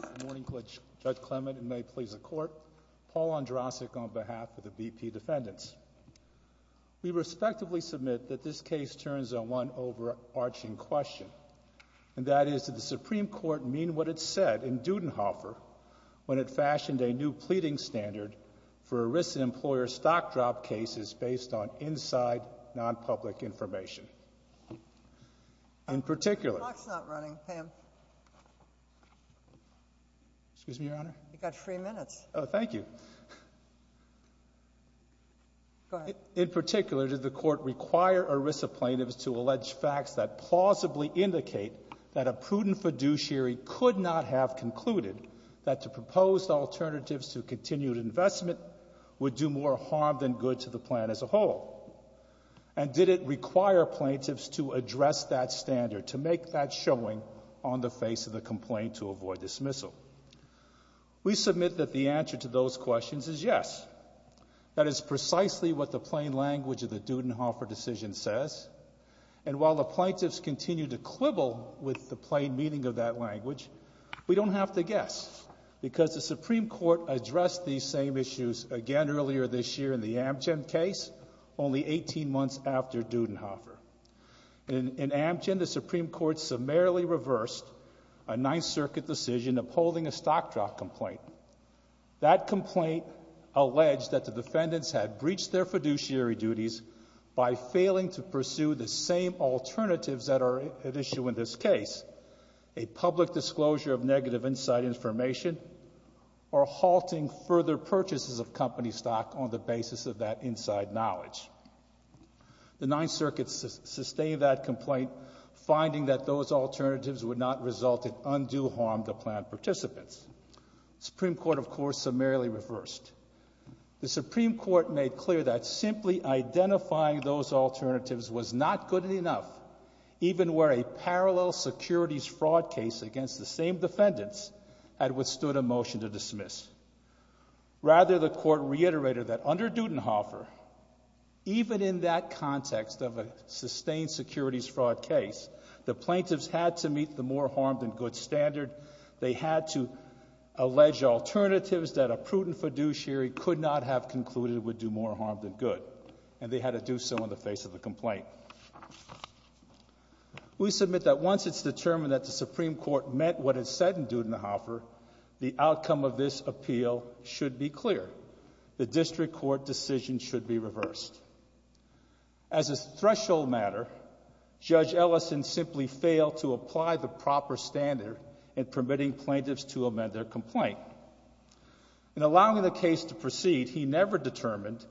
Good morning, Judge Clement, and may it please the Court, Paul Andrasik on behalf of the BP defendants. We respectively submit that this case turns on one overarching question, and that is that the Supreme Court mean what it said in Dudenhofer when it fashioned a new pleading standard for arrested employer stock drop cases based on inside, non-public information. In particular, did the Court require ERISA plaintiffs to allege facts that plausibly indicate that a prudent fiduciary could not have concluded that to propose alternatives to continued investment would do more harm than good to the plan as a whole? And did it require plaintiffs to address that standard, to make that showing on the face of the complaint to avoid dismissal? We submit that the answer to those questions is yes. That is precisely what the plain language of the Dudenhofer decision says. And while the plaintiffs continue to quibble with the plain meaning of that language, we don't have to guess, because the Supreme Court addressed these same issues again earlier this year in the Amgen case, only 18 months after Dudenhofer. In Amgen, the Supreme Court summarily reversed a Ninth Circuit decision upholding a stock drop complaint. That complaint alleged that the defendants had breached their fiduciary duties by failing to pursue the same alternatives that are at issue in this case, a public disclosure of on the basis of that inside knowledge. The Ninth Circuit sustained that complaint, finding that those alternatives would not result in undue harm to plan participants. Supreme Court, of course, summarily reversed. The Supreme Court made clear that simply identifying those alternatives was not good enough, even where a parallel securities fraud case against the same defendants had withstood a motion to dismiss. Rather, the Court reiterated that under Dudenhofer, even in that context of a sustained securities fraud case, the plaintiffs had to meet the more harm than good standard. They had to allege alternatives that a prudent fiduciary could not have concluded would do more harm than good, and they had to do so in the face of the complaint. We submit that once it's determined that the Supreme Court meant what it said in Dudenhofer, the outcome of this appeal should be clear. The District Court decision should be reversed. As a threshold matter, Judge Ellison simply failed to apply the proper standard in permitting plaintiffs to amend their complaint. In allowing the case to proceed, he never determined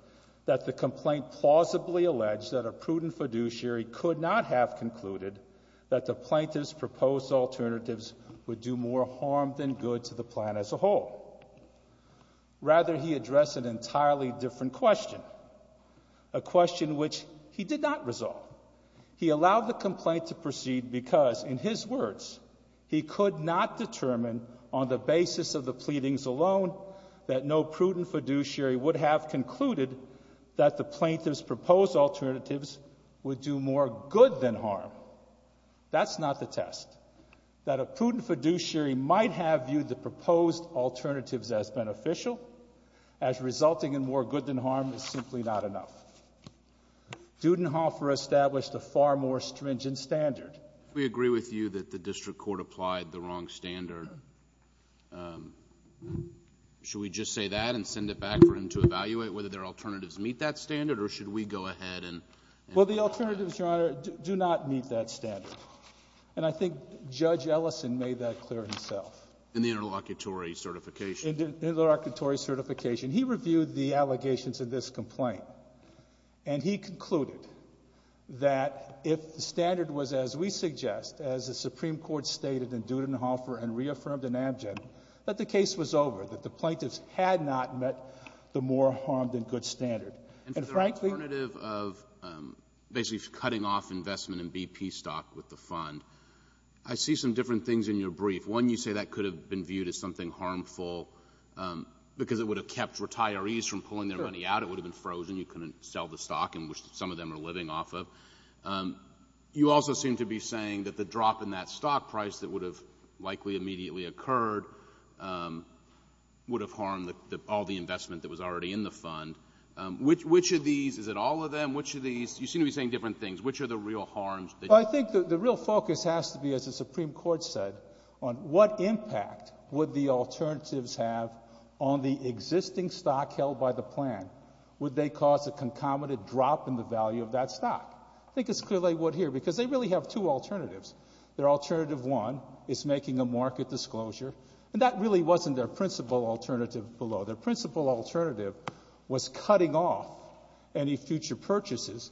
that the complaint plausibly alleged that a prudent fiduciary could not have concluded that the plaintiffs' proposed alternatives would do more harm than good to the plan as a whole. Rather, he addressed an entirely different question, a question which he did not resolve. He allowed the complaint to proceed because, in his words, he could not determine on the basis of the pleadings alone that no prudent fiduciary would have concluded that the plaintiffs' proposed alternatives would do more good than harm. No, that's not the test. That a prudent fiduciary might have viewed the proposed alternatives as beneficial, as resulting in more good than harm, is simply not enough. Dudenhofer established a far more stringent standard. We agree with you that the District Court applied the wrong standard. Should we just say that and send it back for him to evaluate whether their alternatives meet that standard, or should we go ahead and… Well, the alternatives, Your Honor, do not meet that standard. And I think Judge Ellison made that clear himself. In the interlocutory certification? In the interlocutory certification. He reviewed the allegations in this complaint, and he concluded that if the standard was, as we suggest, as the Supreme Court stated in Dudenhofer and reaffirmed in Amgen, that the case was over, that the plaintiffs had not met the more harm than good standard. And frankly… And for the alternative of basically cutting off investment in BP stock with the fund, I see some different things in your brief. One, you say that could have been viewed as something harmful because it would have kept retirees from pulling their money out. Sure. It would have been frozen. You couldn't sell the stock in which some of them are living off of. You also seem to be saying that the drop in that stock price that would have likely immediately occurred would have harmed all the investment that was already in the fund. Which of these? Is it all of them? Which of these? You seem to be saying different things. Which are the real harms? Well, I think the real focus has to be, as the Supreme Court said, on what impact would the alternatives have on the existing stock held by the plan? Would they cause a concomitant drop in the value of that stock? I think it's clear they would here because they really have two alternatives. Their alternative one is making a market disclosure, and that really wasn't their principal alternative below. Their principal alternative was cutting off any future purchases,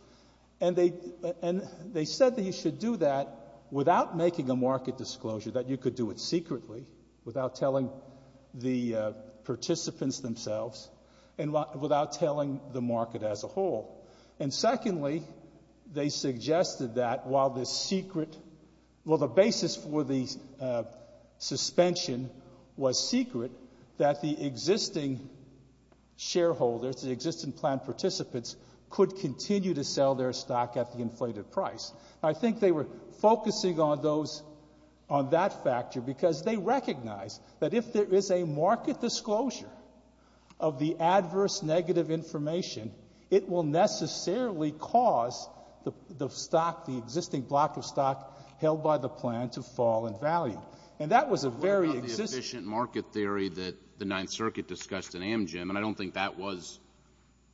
and they said that you should do that without making a market disclosure, that you could do it secretly, without telling the participants themselves, and without telling the market as a whole. And secondly, they suggested that while the secret, well the basis for the suspension was secret, that the existing shareholders, the existing plan participants, could continue to sell their stock at the inflated price. I think they were focusing on those, on that factor, because they recognize that if there was a market disclosure, it wouldn't necessarily cause the stock, the existing block of stock held by the plan, to fall in value. And that was a very... What about the efficient market theory that the Ninth Circuit discussed in Amgen, and I don't think that was,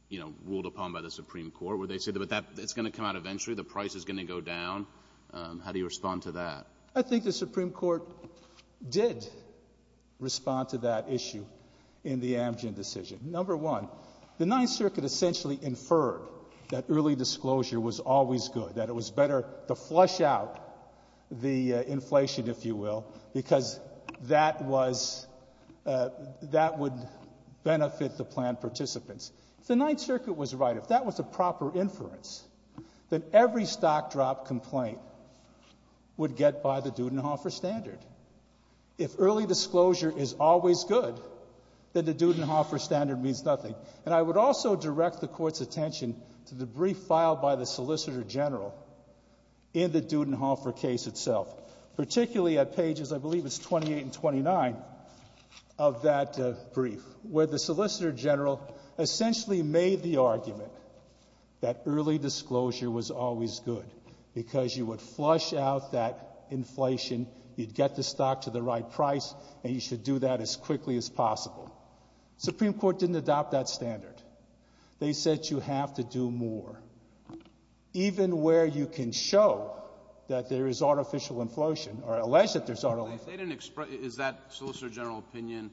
you know, ruled upon by the Supreme Court, where they said, it's going to come out eventually, the price is going to go down, how do you respond to that? I think the Supreme Court did respond to that issue in the Amgen decision. Number one, the Ninth Circuit essentially inferred that early disclosure was always good, that it was better to flush out the inflation, if you will, because that was, that would benefit the plan participants. If the Ninth Circuit was right, if that was a proper inference, then every stock drop complaint would get by the Dudenhofer Standard. If early disclosure is always good, then the Dudenhofer Standard means nothing. And I would also direct the Court's attention to the brief filed by the Solicitor General in the Dudenhofer case itself, particularly at pages, I believe it's 28 and 29, of that brief, where the Solicitor General essentially made the argument that early disclosure was always good, because you would flush out that inflation, you'd get the stock to the right price, and you should do that as quickly as possible. Supreme Court didn't adopt that standard. They said you have to do more. Even where you can show that there is artificial inflation, or allege that there's artificial inflation. They didn't express, is that Solicitor General opinion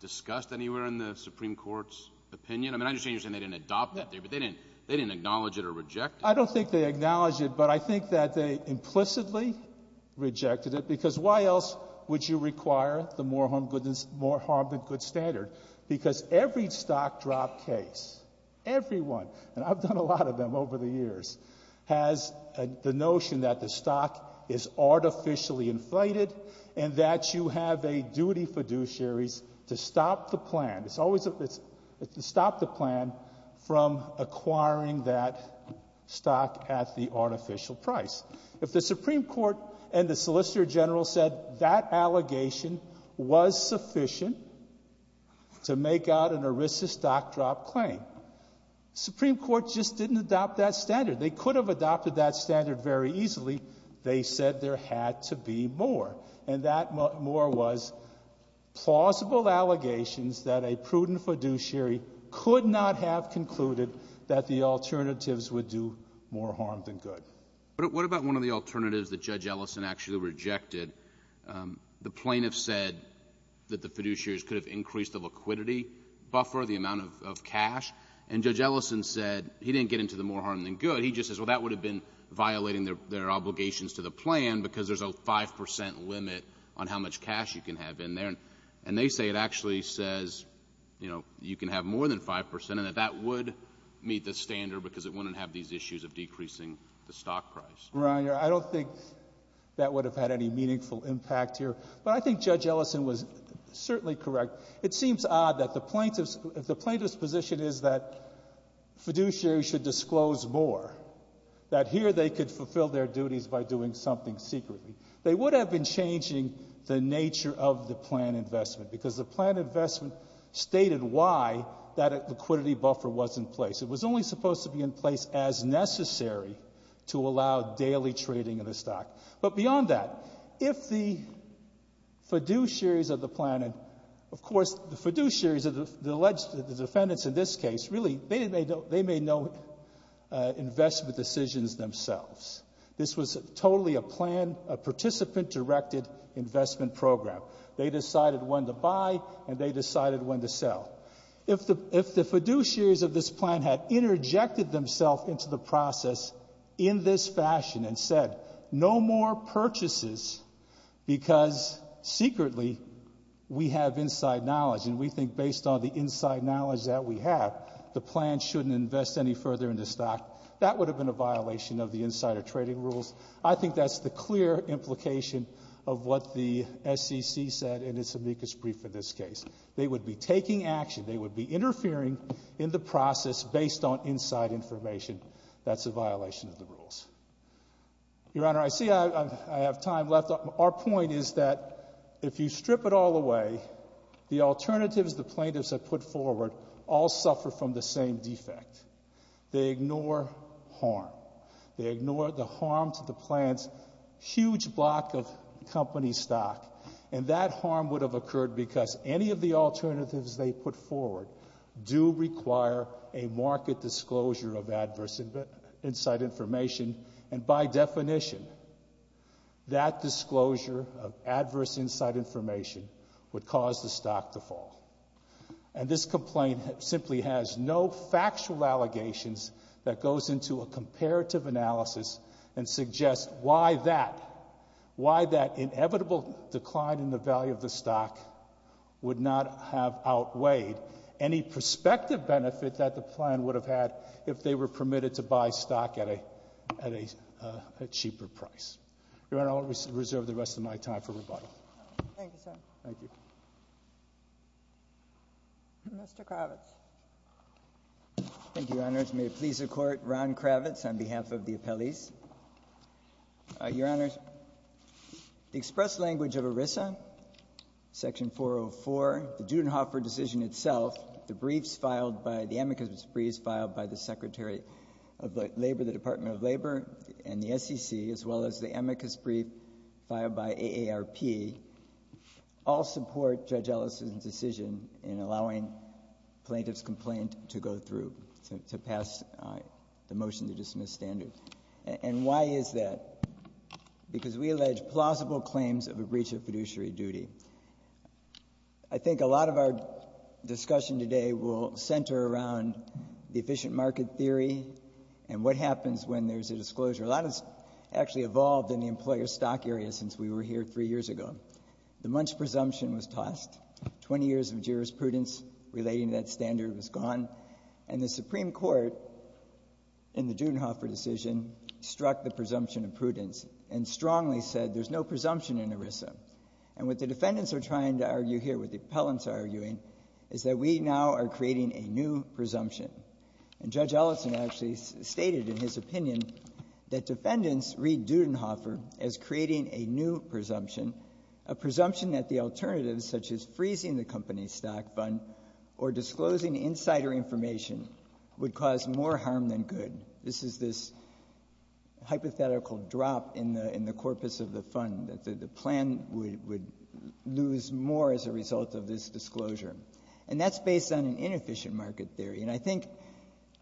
discussed anywhere in the Supreme Court's opinion? I mean, I understand you're saying they didn't adopt that there, but they didn't acknowledge it or reject it? I don't think they acknowledged it, but I think that they implicitly rejected it, because why else would you require the more harm than good standard? Because every stock drop case, every one, and I've done a lot of them over the years, has the notion that the stock is artificially inflated, and that you have a duty fiduciaries to stop the plan from acquiring that stock at the artificial price. If the Supreme Court and the Solicitor General said that allegation was sufficient to make out an ERISA stock drop claim, Supreme Court just didn't adopt that standard. They could have adopted that standard very easily. They said there had to be more, and that more was plausible allegations that a prudent fiduciary could not have concluded that the alternatives would do more harm than good. What about one of the alternatives that Judge Ellison actually rejected? The plaintiff said that the fiduciaries could have increased the liquidity buffer, the amount of cash, and Judge Ellison said he didn't get into the more harm than good. But he just says, well, that would have been violating their obligations to the plan because there's a 5 percent limit on how much cash you can have in there. And they say it actually says, you know, you can have more than 5 percent, and that that would meet the standard because it wouldn't have these issues of decreasing the stock price. Your Honor, I don't think that would have had any meaningful impact here, but I think Judge Ellison was certainly correct. It seems odd that the plaintiff's position is that fiduciaries should disclose more, that here they could fulfill their duties by doing something secretly. They would have been changing the nature of the plan investment because the plan investment stated why that liquidity buffer was in place. It was only supposed to be in place as necessary to allow daily trading of the stock. But beyond that, if the fiduciaries of the plan, of course, the fiduciaries, the defendants in this case, really, they made no investment decisions themselves. This was totally a plan, a participant-directed investment program. They decided when to buy, and they decided when to sell. If the fiduciaries of this plan had interjected themselves into the process in this fashion and said, no more purchases because, secretly, we have inside knowledge and we think based on the inside knowledge that we have, the plan shouldn't invest any further in the stock, that would have been a violation of the insider trading rules. I think that's the clear implication of what the SEC said in its amicus brief in this case. They would be taking action. They would be interfering in the process based on inside information. That's a violation of the rules. Your Honor, I see I have time left. Our point is that if you strip it all away, the alternatives the plaintiffs have put forward all suffer from the same defect. They ignore harm. They ignore the harm to the plan's huge block of company stock, and that harm would have occurred because any of the alternatives they put forward do require a market disclosure of adverse inside information, and by definition, that disclosure of adverse inside information would cause the stock to fall. And this complaint simply has no factual allegations that goes into a comparative analysis and suggests why that inevitable decline in the value of the stock would not have outweighed any prospective benefit that the plan would have had if they were permitted to buy stock at a cheaper price. Your Honor, I'll reserve the rest of my time for rebuttal. Mr. Kravitz. Thank you, Your Honors. May it please the Court, Ron Kravitz on behalf of the appellees. Your Honors, the express language of ERISA, Section 404, the Judenhofer decision itself the briefs filed by, the amicus briefs filed by the Secretary of Labor, the Department of Labor, and the SEC, as well as the amicus brief filed by AARP, all support Judge Ellis's decision in allowing plaintiff's complaint to go through, to pass the motion to dismiss standard. And why is that? Because we allege plausible claims of a breach of fiduciary duty. I think a lot of our discussion today will center around the efficient market theory and what happens when there's a disclosure. A lot has actually evolved in the employer stock area since we were here three years ago. The Munch presumption was tossed. Twenty years of jurisprudence relating to that standard was gone. And the Supreme Court, in the Judenhofer decision, struck the presumption of prudence and strongly said there's no presumption in ERISA. And what the defendants are trying to argue here, what the appellants are arguing, is that we now are creating a new presumption. And Judge Ellison actually stated in his opinion that defendants read Judenhofer as creating a new presumption, a presumption that the alternatives, such as freezing the company's stock fund or disclosing insider information, would cause more harm than good. This is this hypothetical drop in the corpus of the fund, that the plan would lose more as a result of this disclosure. And that's based on an inefficient market theory. And I think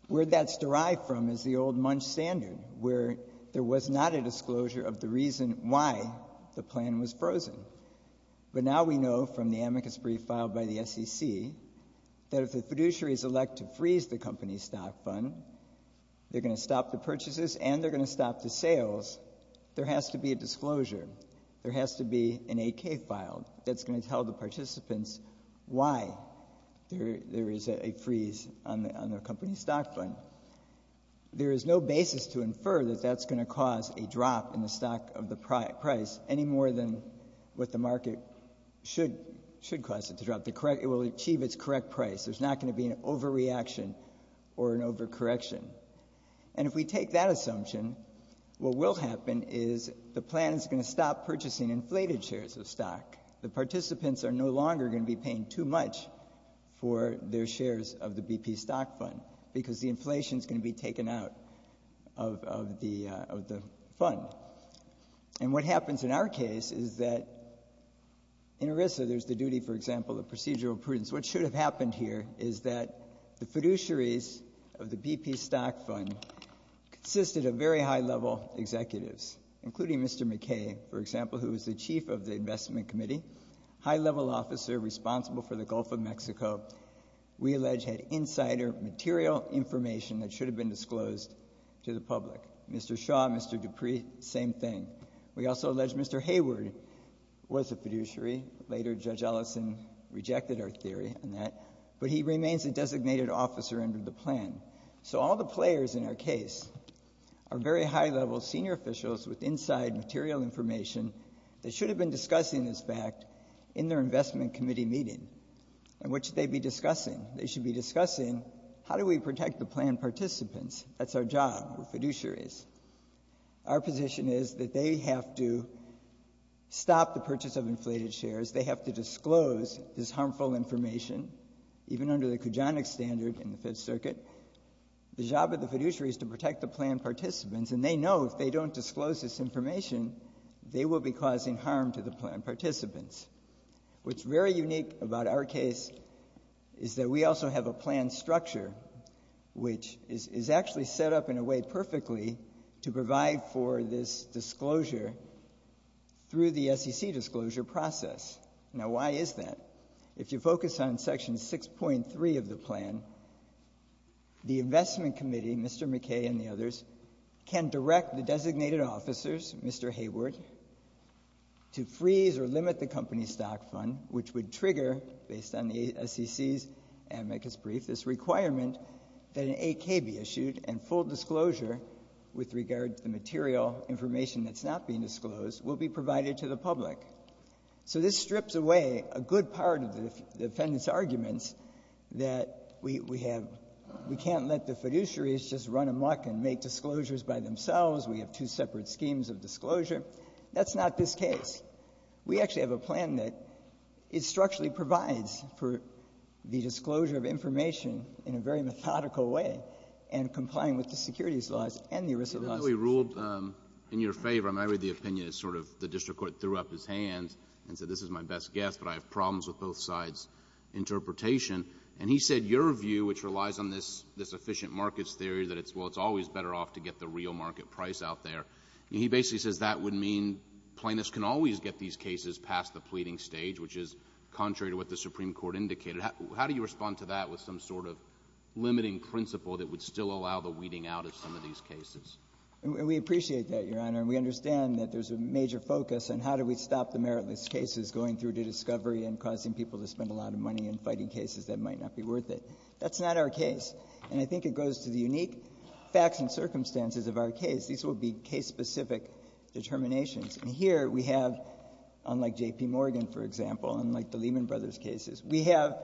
where that's derived from is the old Munch standard, where there was not a disclosure of the reason why the plan was frozen. But now we know from the amicus brief filed by the SEC that if the fiduciary is elected to freeze the company's stock fund, they're going to stop the purchases and they're going to stop the sales. There has to be a disclosure. There has to be an AK file that's going to tell the participants why there is a freeze on the company's stock fund. There is no basis to infer that that's going to cause a drop in the stock of the price any more than what the market should cause it to drop. It will achieve its correct price. There's not going to be an overreaction or an overcorrection. And if we take that assumption, what will happen is the plan is going to stop purchasing inflated shares of stock. The participants are no longer going to be paying too much for their shares of the BP stock fund, because the inflation is going to be taken out of the fund. And what happens in our case is that in ERISA there's the duty, for example, of procedural prudence. What should have happened here is that the fiduciaries of the BP stock fund consisted of very high-level executives, including Mr. McKay, for example, who was the chief of the investment committee, high-level officer responsible for the Gulf of Mexico. We allege had insider material information that should have been disclosed to the public. Mr. Shaw, Mr. Dupree, same thing. We also allege Mr. Hayward was a fiduciary. Later, Judge Ellison rejected our theory on that. But he remains a designated officer under the plan. So all the players in our case are very high-level senior officials with inside material information that should have been discussing this fact in their investment committee meeting. And what should they be discussing? They should be discussing, how do we protect the plan participants? That's our job, we're fiduciaries. Our position is that they have to stop the purchase of inflated shares. They have to disclose this harmful information, even under the Kujanic standard in the Fifth Circuit. The job of the fiduciary is to protect the plan participants, and they know if they don't disclose this information, they will be causing harm to the plan participants. What's very unique about our case is that we also have a plan structure, which is actually set up in a way perfectly to provide for this disclosure through the SEC disclosure process. Now, why is that? If you focus on Section 6.3 of the plan, the investment committee, Mr. McKay and the others, can direct the designated officers, Mr. Hayward, to freeze or limit the company stock fund, which would trigger, based on the SEC's amicus brief, this requirement that full disclosure, with regard to the material information that's not being disclosed, will be provided to the public. So this strips away a good part of the defendant's arguments that we can't let the fiduciaries just run amok and make disclosures by themselves, we have two separate schemes of disclosure. That's not this case. We actually have a plan that structurally provides for the disclosure of information in a very methodical way and complying with the securities laws and the risk laws. Even though he ruled in your favor, I mean, I read the opinion as sort of the district court threw up his hands and said, this is my best guess, but I have problems with both sides' interpretation. And he said your view, which relies on this efficient markets theory that it's always better off to get the real market price out there. He basically says that would mean plaintiffs can always get these cases past the pleading stage, which is contrary to what the Supreme Court indicated. How do you respond to that with some sort of limiting principle that would still allow the weeding out of some of these cases? And we appreciate that, Your Honor. And we understand that there's a major focus on how do we stop the meritless cases going through to discovery and causing people to spend a lot of money in fighting cases that might not be worth it. That's not our case. And I think it goes to the unique facts and circumstances of our case. These will be case-specific determinations. And here we have, unlike J.P. Morgan, for example, unlike the Lehman Brothers cases, we have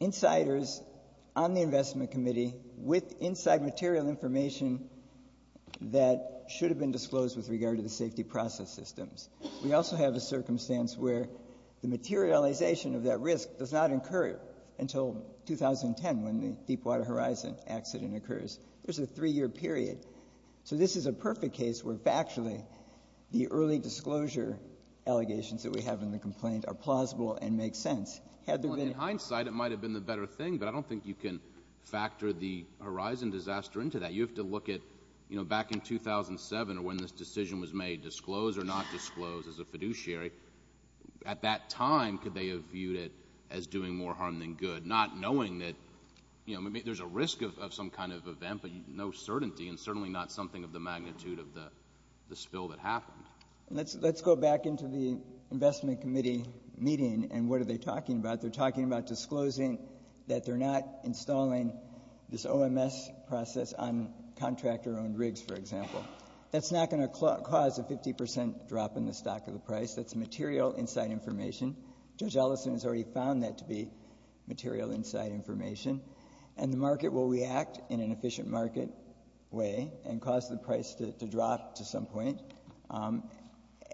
insiders on the investment committee with inside material information that should have been disclosed with regard to the safety process systems. We also have a circumstance where the materialization of that risk does not occur until 2010 when the Deepwater Horizon accident occurs. There's a three-year period. So this is a perfect case where factually the early disclosure allegations that we have in the complaint are plausible and make sense. In hindsight, it might have been the better thing, but I don't think you can factor the Horizon disaster into that. You have to look at back in 2007 or when this decision was made, disclose or not disclose as a fiduciary. At that time, could they have viewed it as doing more harm than good, not knowing that there's a risk of some kind of event but no certainty and certainly not something of the magnitude of the spill that happened? Let's go back into the investment committee meeting and what are they talking about. They're talking about disclosing that they're not installing this OMS process on contractor-owned rigs, for example. That's not going to cause a 50 percent drop in the stock of the price. That's material inside information. Judge Ellison has already found that to be material inside information. And the market will react in an efficient market way and cause the price to plummet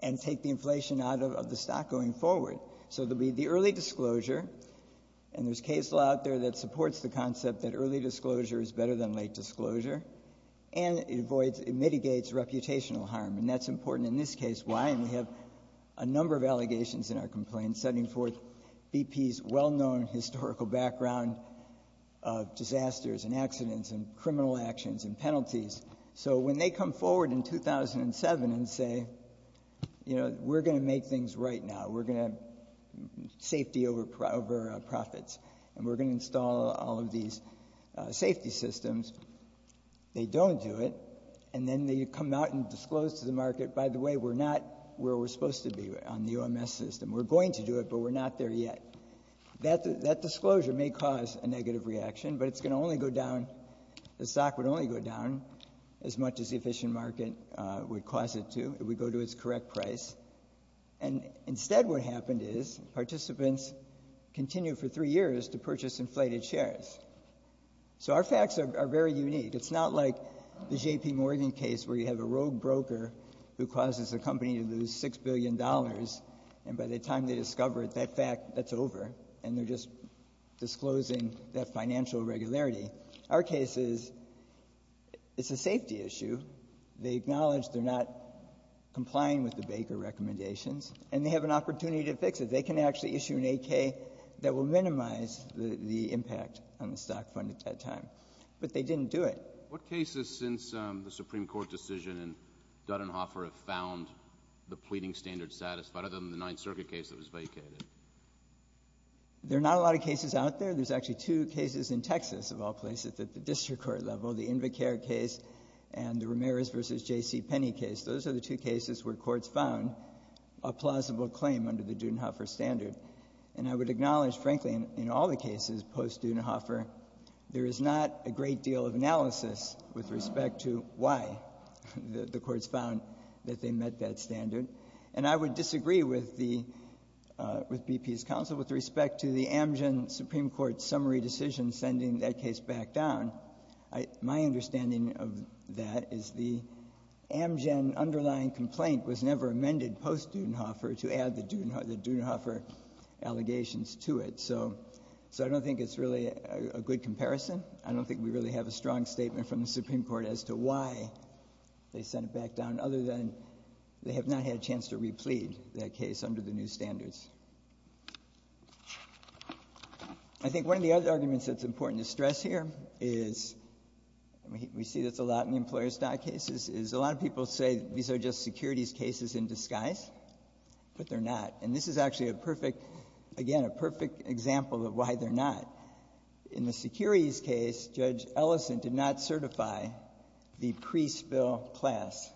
and take the inflation out of the stock going forward. So there will be the early disclosure, and there's case law out there that supports the concept that early disclosure is better than late disclosure, and it mitigates reputational harm. And that's important in this case. Why? And we have a number of allegations in our complaint setting forth BP's well-known historical background of disasters and accidents and criminal actions and penalties. So when they come forward in 2007 and say, you know, we're going to make things right now, we're going to safety over profits, and we're going to install all of these safety systems, they don't do it. And then they come out and disclose to the market, by the way, we're not where we're supposed to be on the OMS system. We're going to do it, but we're not there yet. That disclosure may cause a negative reaction, but it's going to only go down as much as the efficient market would cause it to. It would go to its correct price. And instead what happened is participants continued for three years to purchase inflated shares. So our facts are very unique. It's not like the J.P. Morgan case where you have a rogue broker who causes a company to lose $6 billion, and by the time they discover it, that fact, that's over, and they're just disclosing that financial regularity. Our case is, it's a safety issue. They acknowledge they're not complying with the Baker recommendations, and they have an opportunity to fix it. They can actually issue an AK that will minimize the impact on the stock fund at that time. But they didn't do it. What cases since the Supreme Court decision and Dudenhoffer have found the pleading standards satisfied, other than the Ninth Circuit case that was vacated? There are not a lot of cases out there. There's actually two cases in Texas, of all places, at the district court level, the Invicare case and the Ramirez v. J.C. Penny case. Those are the two cases where courts found a plausible claim under the Dudenhoffer standard. And I would acknowledge, frankly, in all the cases post-Dudenhoffer, there is not a great deal of analysis with respect to why the courts found that they met that standard. And I would disagree with BP's counsel with respect to the Amgen Supreme Court's summary decision sending that case back down. My understanding of that is the Amgen underlying complaint was never amended post-Dudenhoffer to add the Dudenhoffer allegations to it. So I don't think it's really a good comparison. I don't think we really have a strong statement from the Supreme Court as to why they sent it back down, other than they have not had a chance to replead that case under the new standards. I think one of the other arguments that's important to stress here is, and we see this a lot in the employer's dock cases, is a lot of people say these are just securities cases in disguise, but they're not. And this is actually a perfect, again, a perfect example of why they're not. In the securities case, Judge Ellison did not certify the pre-spill class.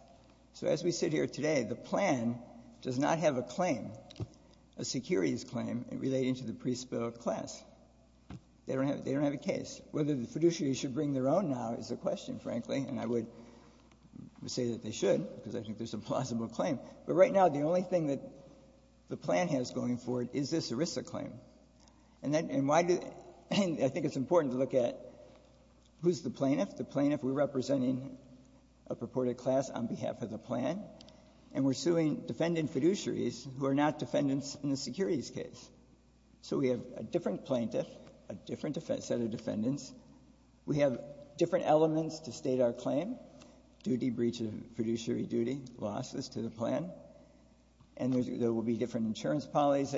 So as we sit here today, the plan does not have a claim. A securities claim relating to the pre-spill class. They don't have a case. Whether the fiduciary should bring their own now is the question, frankly, and I would say that they should, because I think there's a plausible claim. But right now, the only thing that the plan has going for it is this ERISA claim. And why do they? I think it's important to look at who's the plaintiff. The plaintiff, we're representing a purported class on behalf of the plan, and we're suing defendant fiduciaries who are not defendants in the securities case. So we have a different plaintiff, a different set of defendants. We have different elements to state our claim. Duty, breach of fiduciary duty, losses to the plan. And there will be different insurance policies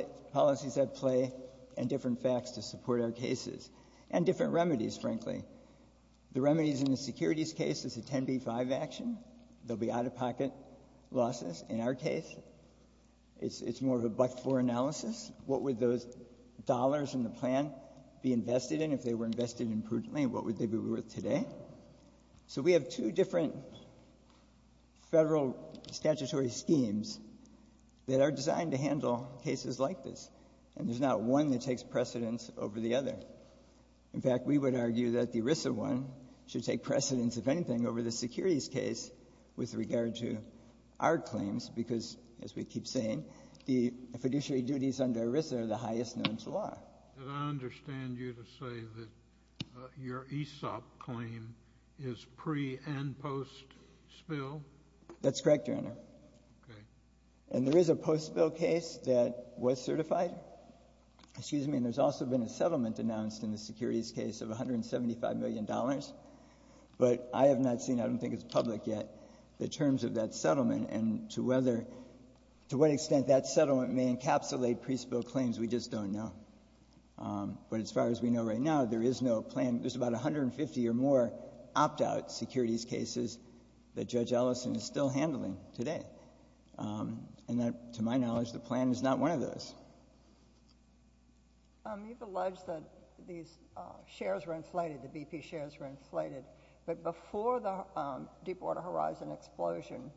at play and different facts to support our cases. And different remedies, frankly. The remedies in the securities case is a 10B-5 action. There will be out-of-pocket losses in our case. It's more of a buck-four analysis. What would those dollars in the plan be invested in if they were invested imprudently, and what would they be worth today? So we have two different federal statutory schemes that are designed to handle cases like this. And there's not one that takes precedence over the other. In fact, we would argue that the ERISA one should take precedence, if anything, over the securities case with regard to our claims. Because, as we keep saying, the fiduciary duties under ERISA are the highest known to law. And I understand you to say that your ESOP claim is pre- and post-spill? That's correct, Your Honor. Okay. And there is a post-spill case that was certified. Excuse me. And there's also been a settlement announced in the securities case of $175 million. But I have not seen, I don't think it's public yet, the terms of that settlement and to what extent that settlement may encapsulate pre-spill claims. We just don't know. But as far as we know right now, there is no plan. There's about 150 or more opt-out securities cases that Judge Ellison is still handling today. And to my knowledge, the plan is not one of those. You've alleged that these shares were inflated, the BP shares were inflated. But before the Deepwater Horizon explosion,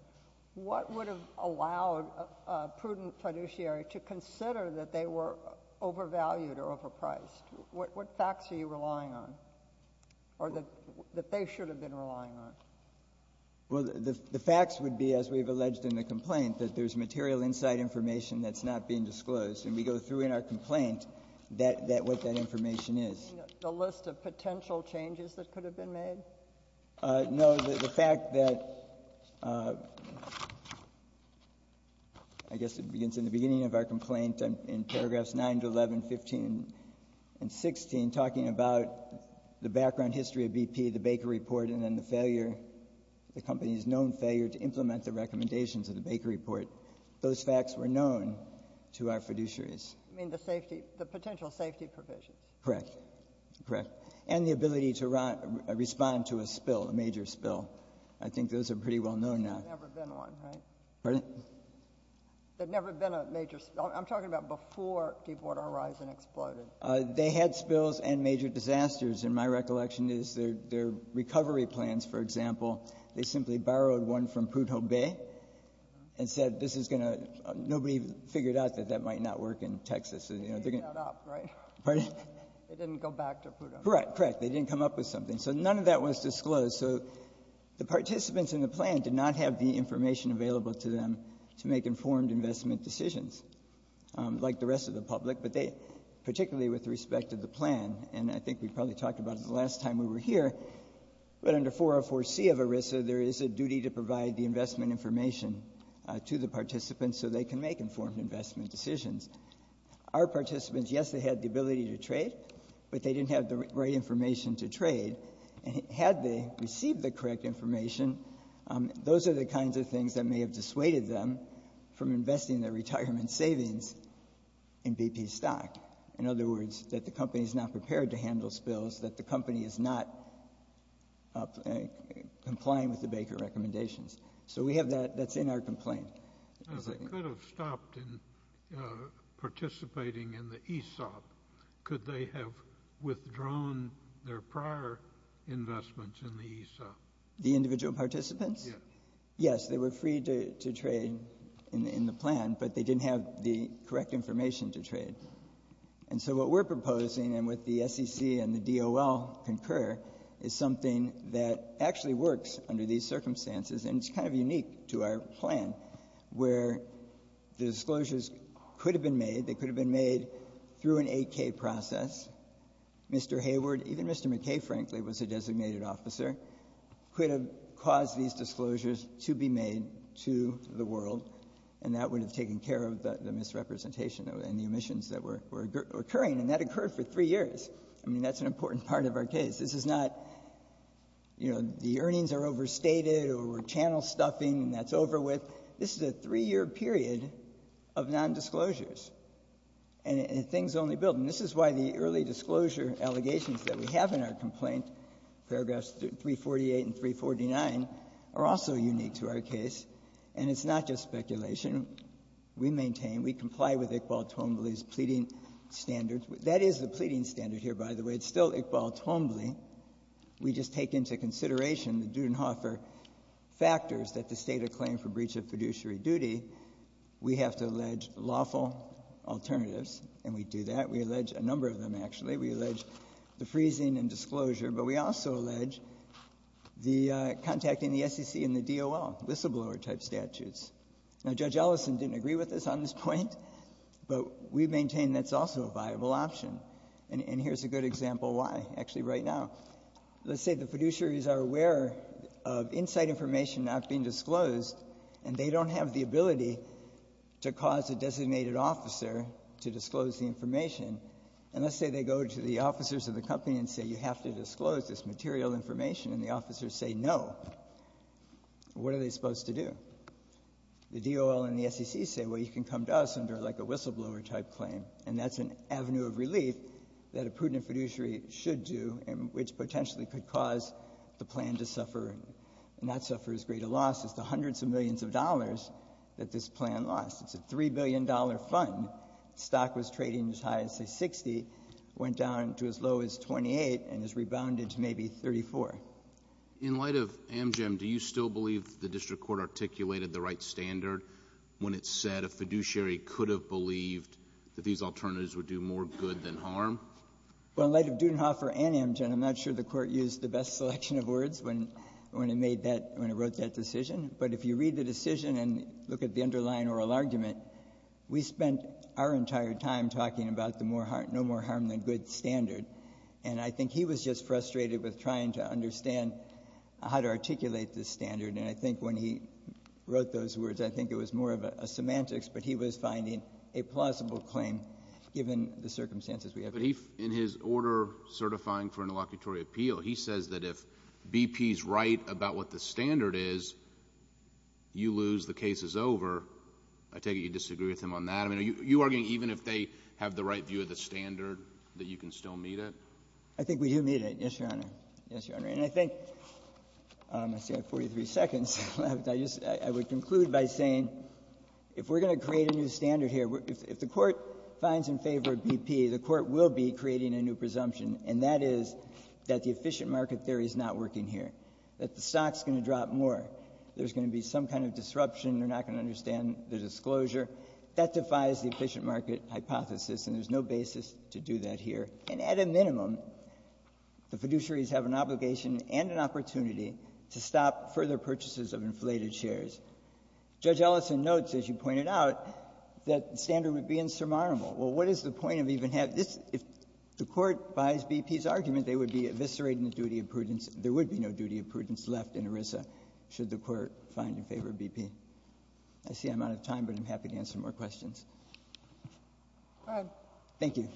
what would have allowed a prudent fiduciary to consider that they were overvalued or overpriced? What facts are you relying on or that they should have been relying on? Well, the facts would be, as we've alleged in the complaint, that there's material inside information that's not being disclosed. And we go through in our complaint what that information is. The list of potential changes that could have been made? No. The fact that, I guess it begins in the beginning of our complaint in paragraphs 9 to 11, 15 and 16, talking about the background history of BP, the Baker Report, and then the failure, the company's known failure to disclose those facts were known to our fiduciaries. You mean the safety, the potential safety provisions? Correct. Correct. And the ability to respond to a spill, a major spill. I think those are pretty well known now. There's never been one, right? Pardon? There's never been a major spill. I'm talking about before Deepwater Horizon exploded. They had spills and major disasters. And my recollection is their recovery plans, for example, they simply figured out that that might not work in Texas. They didn't go back to PUDO. Correct. Correct. They didn't come up with something. So none of that was disclosed. So the participants in the plan did not have the information available to them to make informed investment decisions, like the rest of the public. But particularly with respect to the plan, and I think we probably talked about it the last time we were here, but under 404C of ERISA, there is a So they can make informed investment decisions. Our participants, yes, they had the ability to trade, but they didn't have the right information to trade. And had they received the correct information, those are the kinds of things that may have dissuaded them from investing their retirement savings in BP stock. In other words, that the company is not prepared to handle spills, that the company is not complying with the Baker recommendations. So we have that. That's in our complaint. I could have stopped in participating in the ESOP. Could they have withdrawn their prior investments in the ESOP? The individual participants? Yes. Yes, they were free to trade in the plan, but they didn't have the correct information to trade. And so what we're proposing, and what the SEC and the DOL concur, is something that actually works under these circumstances. And it's kind of unique to our plan, where the disclosures could have been made. They could have been made through an 8K process. Mr. Hayward, even Mr. McKay, frankly, was a designated officer, could have caused these disclosures to be made to the world, and that would have taken care of the misrepresentation and the omissions that were occurring. And that occurred for three years. I mean, that's an important part of our case. This is not, you know, the earnings are overstated or we're channel-stuffing and that's over with. This is a three-year period of nondisclosures, and things only build. And this is why the early disclosure allegations that we have in our complaint, paragraphs 348 and 349, are also unique to our case. And it's not just speculation. We maintain, we comply with Iqbal Twombly's pleading standards. That is the pleading standard here, by the way. It's still Iqbal Twombly. We just take into consideration the Dudenhofer factors that the State acclaimed for breach of fiduciary duty. We have to allege lawful alternatives, and we do that. We allege a number of them, actually. We allege the freezing and disclosure, but we also allege the contacting the SEC and the DOL, whistleblower-type statutes. Now, Judge Ellison didn't agree with us on this point, but we maintain that's also a viable option. And here's a good example why, actually right now. Let's say the fiduciaries are aware of inside information not being disclosed, and they don't have the ability to cause a designated officer to disclose the information. And let's say they go to the officers of the company and say, you have to disclose this material information, and the officers say no. What are they supposed to do? The DOL and the SEC say, well, you can come to us under, like, a whistleblower-type claim, and that's an avenue of relief that a prudent fiduciary should do, which potentially could cause the plan to suffer, and that suffers greater loss as the hundreds of millions of dollars that this plan lost. It's a $3 billion fund. The stock was trading as high as, say, 60, went down to as low as 28, and has rebounded to maybe 34. In light of Amgem, do you still believe the district court articulated the right when it said a fiduciary could have believed that these alternatives would do more good than harm? Well, in light of Dudenhofer and Amgem, I'm not sure the Court used the best selection of words when it made that — when it wrote that decision. But if you read the decision and look at the underlying oral argument, we spent our entire time talking about the more — no more harm than good standard. And I think he was just frustrated with trying to understand how to articulate this standard. And I think when he wrote those words, I think it was more of a semantics, but he was finding a plausible claim given the circumstances we have today. But he — in his order certifying for an allocutory appeal, he says that if BP's right about what the standard is, you lose, the case is over. I take it you disagree with him on that. I mean, are you arguing even if they have the right view of the standard, that you can still meet it? I think we do meet it, yes, Your Honor. Yes, Your Honor. And I think — let's see, I have 43 seconds left. I just — I would conclude by saying if we're going to create a new standard here, if the Court finds in favor of BP, the Court will be creating a new presumption, and that is that the efficient market theory is not working here, that the stock is going to drop more, there's going to be some kind of disruption, they're not going to understand the disclosure. That defies the efficient market hypothesis, and there's no basis to do that here. And at a minimum, the fiduciaries have an obligation and an opportunity to stop further purchases of inflated shares. Judge Ellison notes, as you pointed out, that the standard would be insurmountable. Well, what is the point of even having this? If the Court buys BP's argument, they would be eviscerating the duty of prudence — there would be no duty of prudence left in ERISA should the Court find in favor of BP. I see I'm out of time, but I'm happy to answer more questions. Thank you.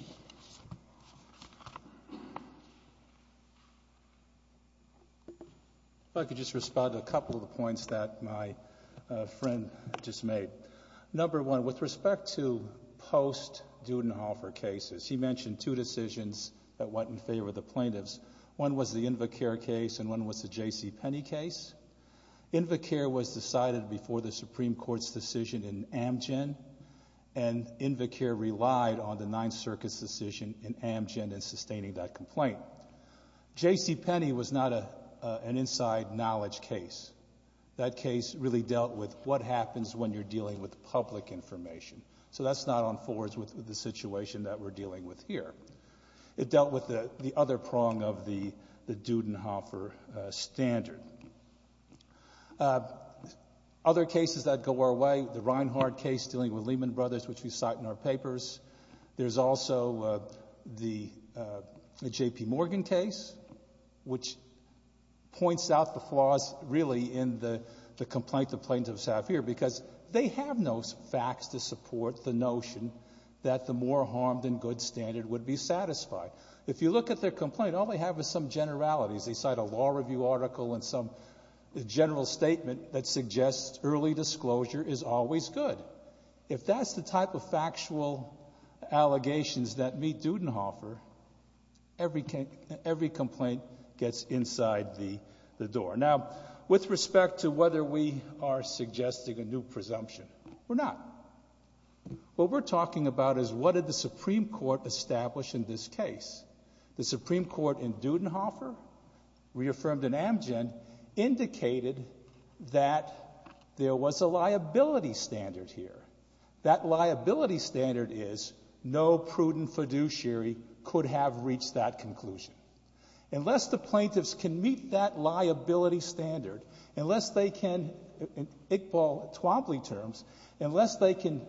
If I could just respond to a couple of the points that my friend just made. Number one, with respect to post-Dudenhofer cases, he mentioned two decisions that weren't in favor of the plaintiffs. One was the Invacare case, and one was the J.C. Penney case. Invacare was decided before the Supreme Court's decision in Amgen, and Invacare relied on the Ninth Circuit's decision in Amgen in sustaining that complaint. J.C. Penney was not an inside knowledge case. That case really dealt with what happens when you're dealing with public information. So that's not on forwards with the situation that we're dealing with here. It dealt with the other prong of the Dudenhofer standard. Other cases that go our way, the Reinhardt case dealing with Lehman Brothers, which we cite in our papers, there's also the J.P. Morgan case, which points out the flaws really in the complaint the plaintiffs have here because they have no facts to support the notion that the more harmed and good standard would be satisfied. If you look at their complaint, all they have is some generalities. They cite a law review article and some general statement that suggests early disclosure is always good. But if that's the type of factual allegations that meet Dudenhofer, every complaint gets inside the door. Now, with respect to whether we are suggesting a new presumption, we're not. What we're talking about is what did the Supreme Court establish in this case. The Supreme Court in Dudenhofer, reaffirmed in Amgen, indicated that there was a liability standard here. That liability standard is no prudent fiduciary could have reached that conclusion. Unless the plaintiffs can meet that liability standard, unless they can, in Iqbal Twombly terms, unless they can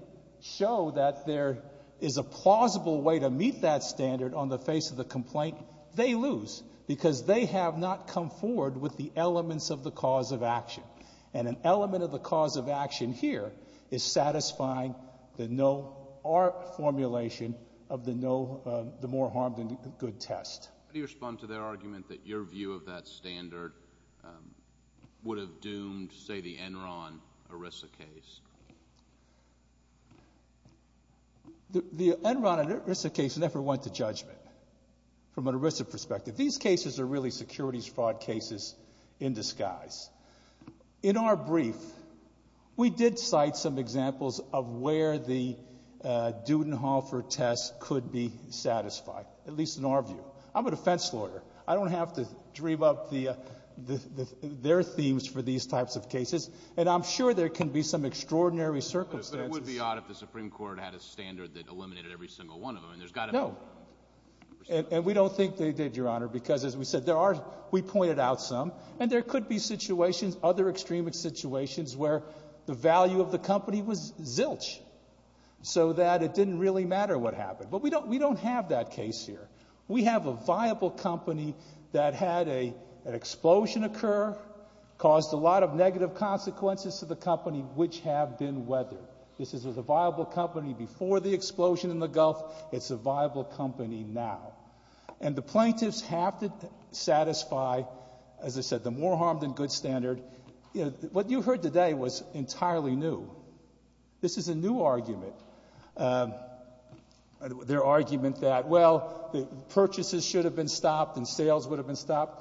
show that there is a plausible way to meet that standard on the face of the complaint, they lose because they have not come forward with the elements of the cause of action. And an element of the cause of action here is satisfying our formulation of the more harmed and good test. How do you respond to their argument that your view of that standard would have doomed, say, the Enron ERISA case? The Enron ERISA case never went to judgment from an ERISA perspective. These cases are really securities fraud cases in disguise. In our brief, we did cite some examples of where the Dudenhofer test could be satisfied, at least in our view. I'm a defense lawyer. I don't have to dream up their themes for these types of cases. And I'm sure there can be some extraordinary circumstances. But it would be odd if the Supreme Court had a standard that eliminated every single one of them. No. And we don't think they did, Your Honor, because, as we said, we pointed out some. And there could be situations, other extreme situations, where the value of the company was zilch so that it didn't really matter what happened. But we don't have that case here. We have a viable company that had an explosion occur, caused a lot of negative consequences to the company, which have been weathered. This is a viable company before the explosion in the Gulf. It's a viable company now. And the plaintiffs have to satisfy, as I said, the more harm than good standard. What you heard today was entirely new. This is a new argument, their argument that, well, purchases should have been stopped and sales would have been stopped,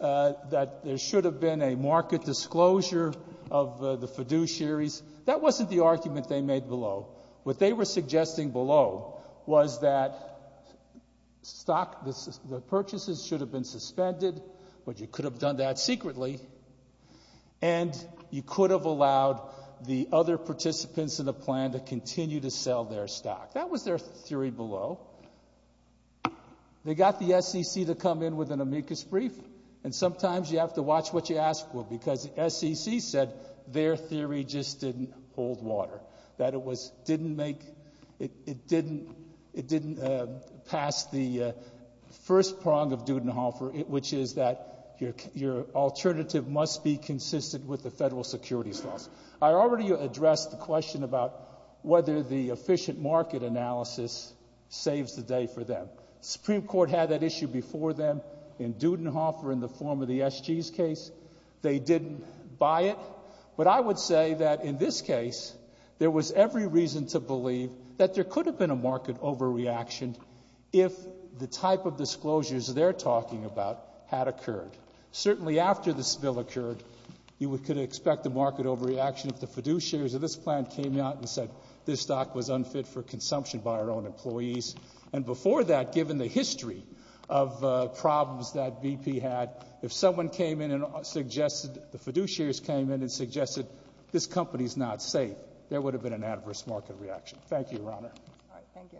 that there should have been a market disclosure of the fiduciaries. That wasn't the argument they made below. What they were suggesting below was that stock, the purchases should have been suspended, but you could have done that secretly, and you could have allowed the other participants in the plan to continue to sell their stock. That was their theory below. They got the SEC to come in with an amicus brief. And sometimes you have to watch what you ask for, because the SEC said their theory just didn't hold water, that it didn't pass the first prong of Dudenhofer, which is that your alternative must be consistent with the federal securities laws. I already addressed the question about whether the efficient market analysis saves the day for them. The Supreme Court had that issue before them in Dudenhofer in the form of the SG's case. They didn't buy it. But I would say that in this case, there was every reason to believe that there could have been a market overreaction if the type of disclosures they're talking about had occurred. Certainly after this bill occurred, you could expect a market overreaction if the fiduciaries of this plan came out and said this stock was unfit for consumption by our own employees. And before that, given the history of problems that BP had, if someone came in and suggested, the fiduciaries came in and suggested this company's not safe, there would have been an adverse market reaction. Thank you, Your Honor. All right. Thank you.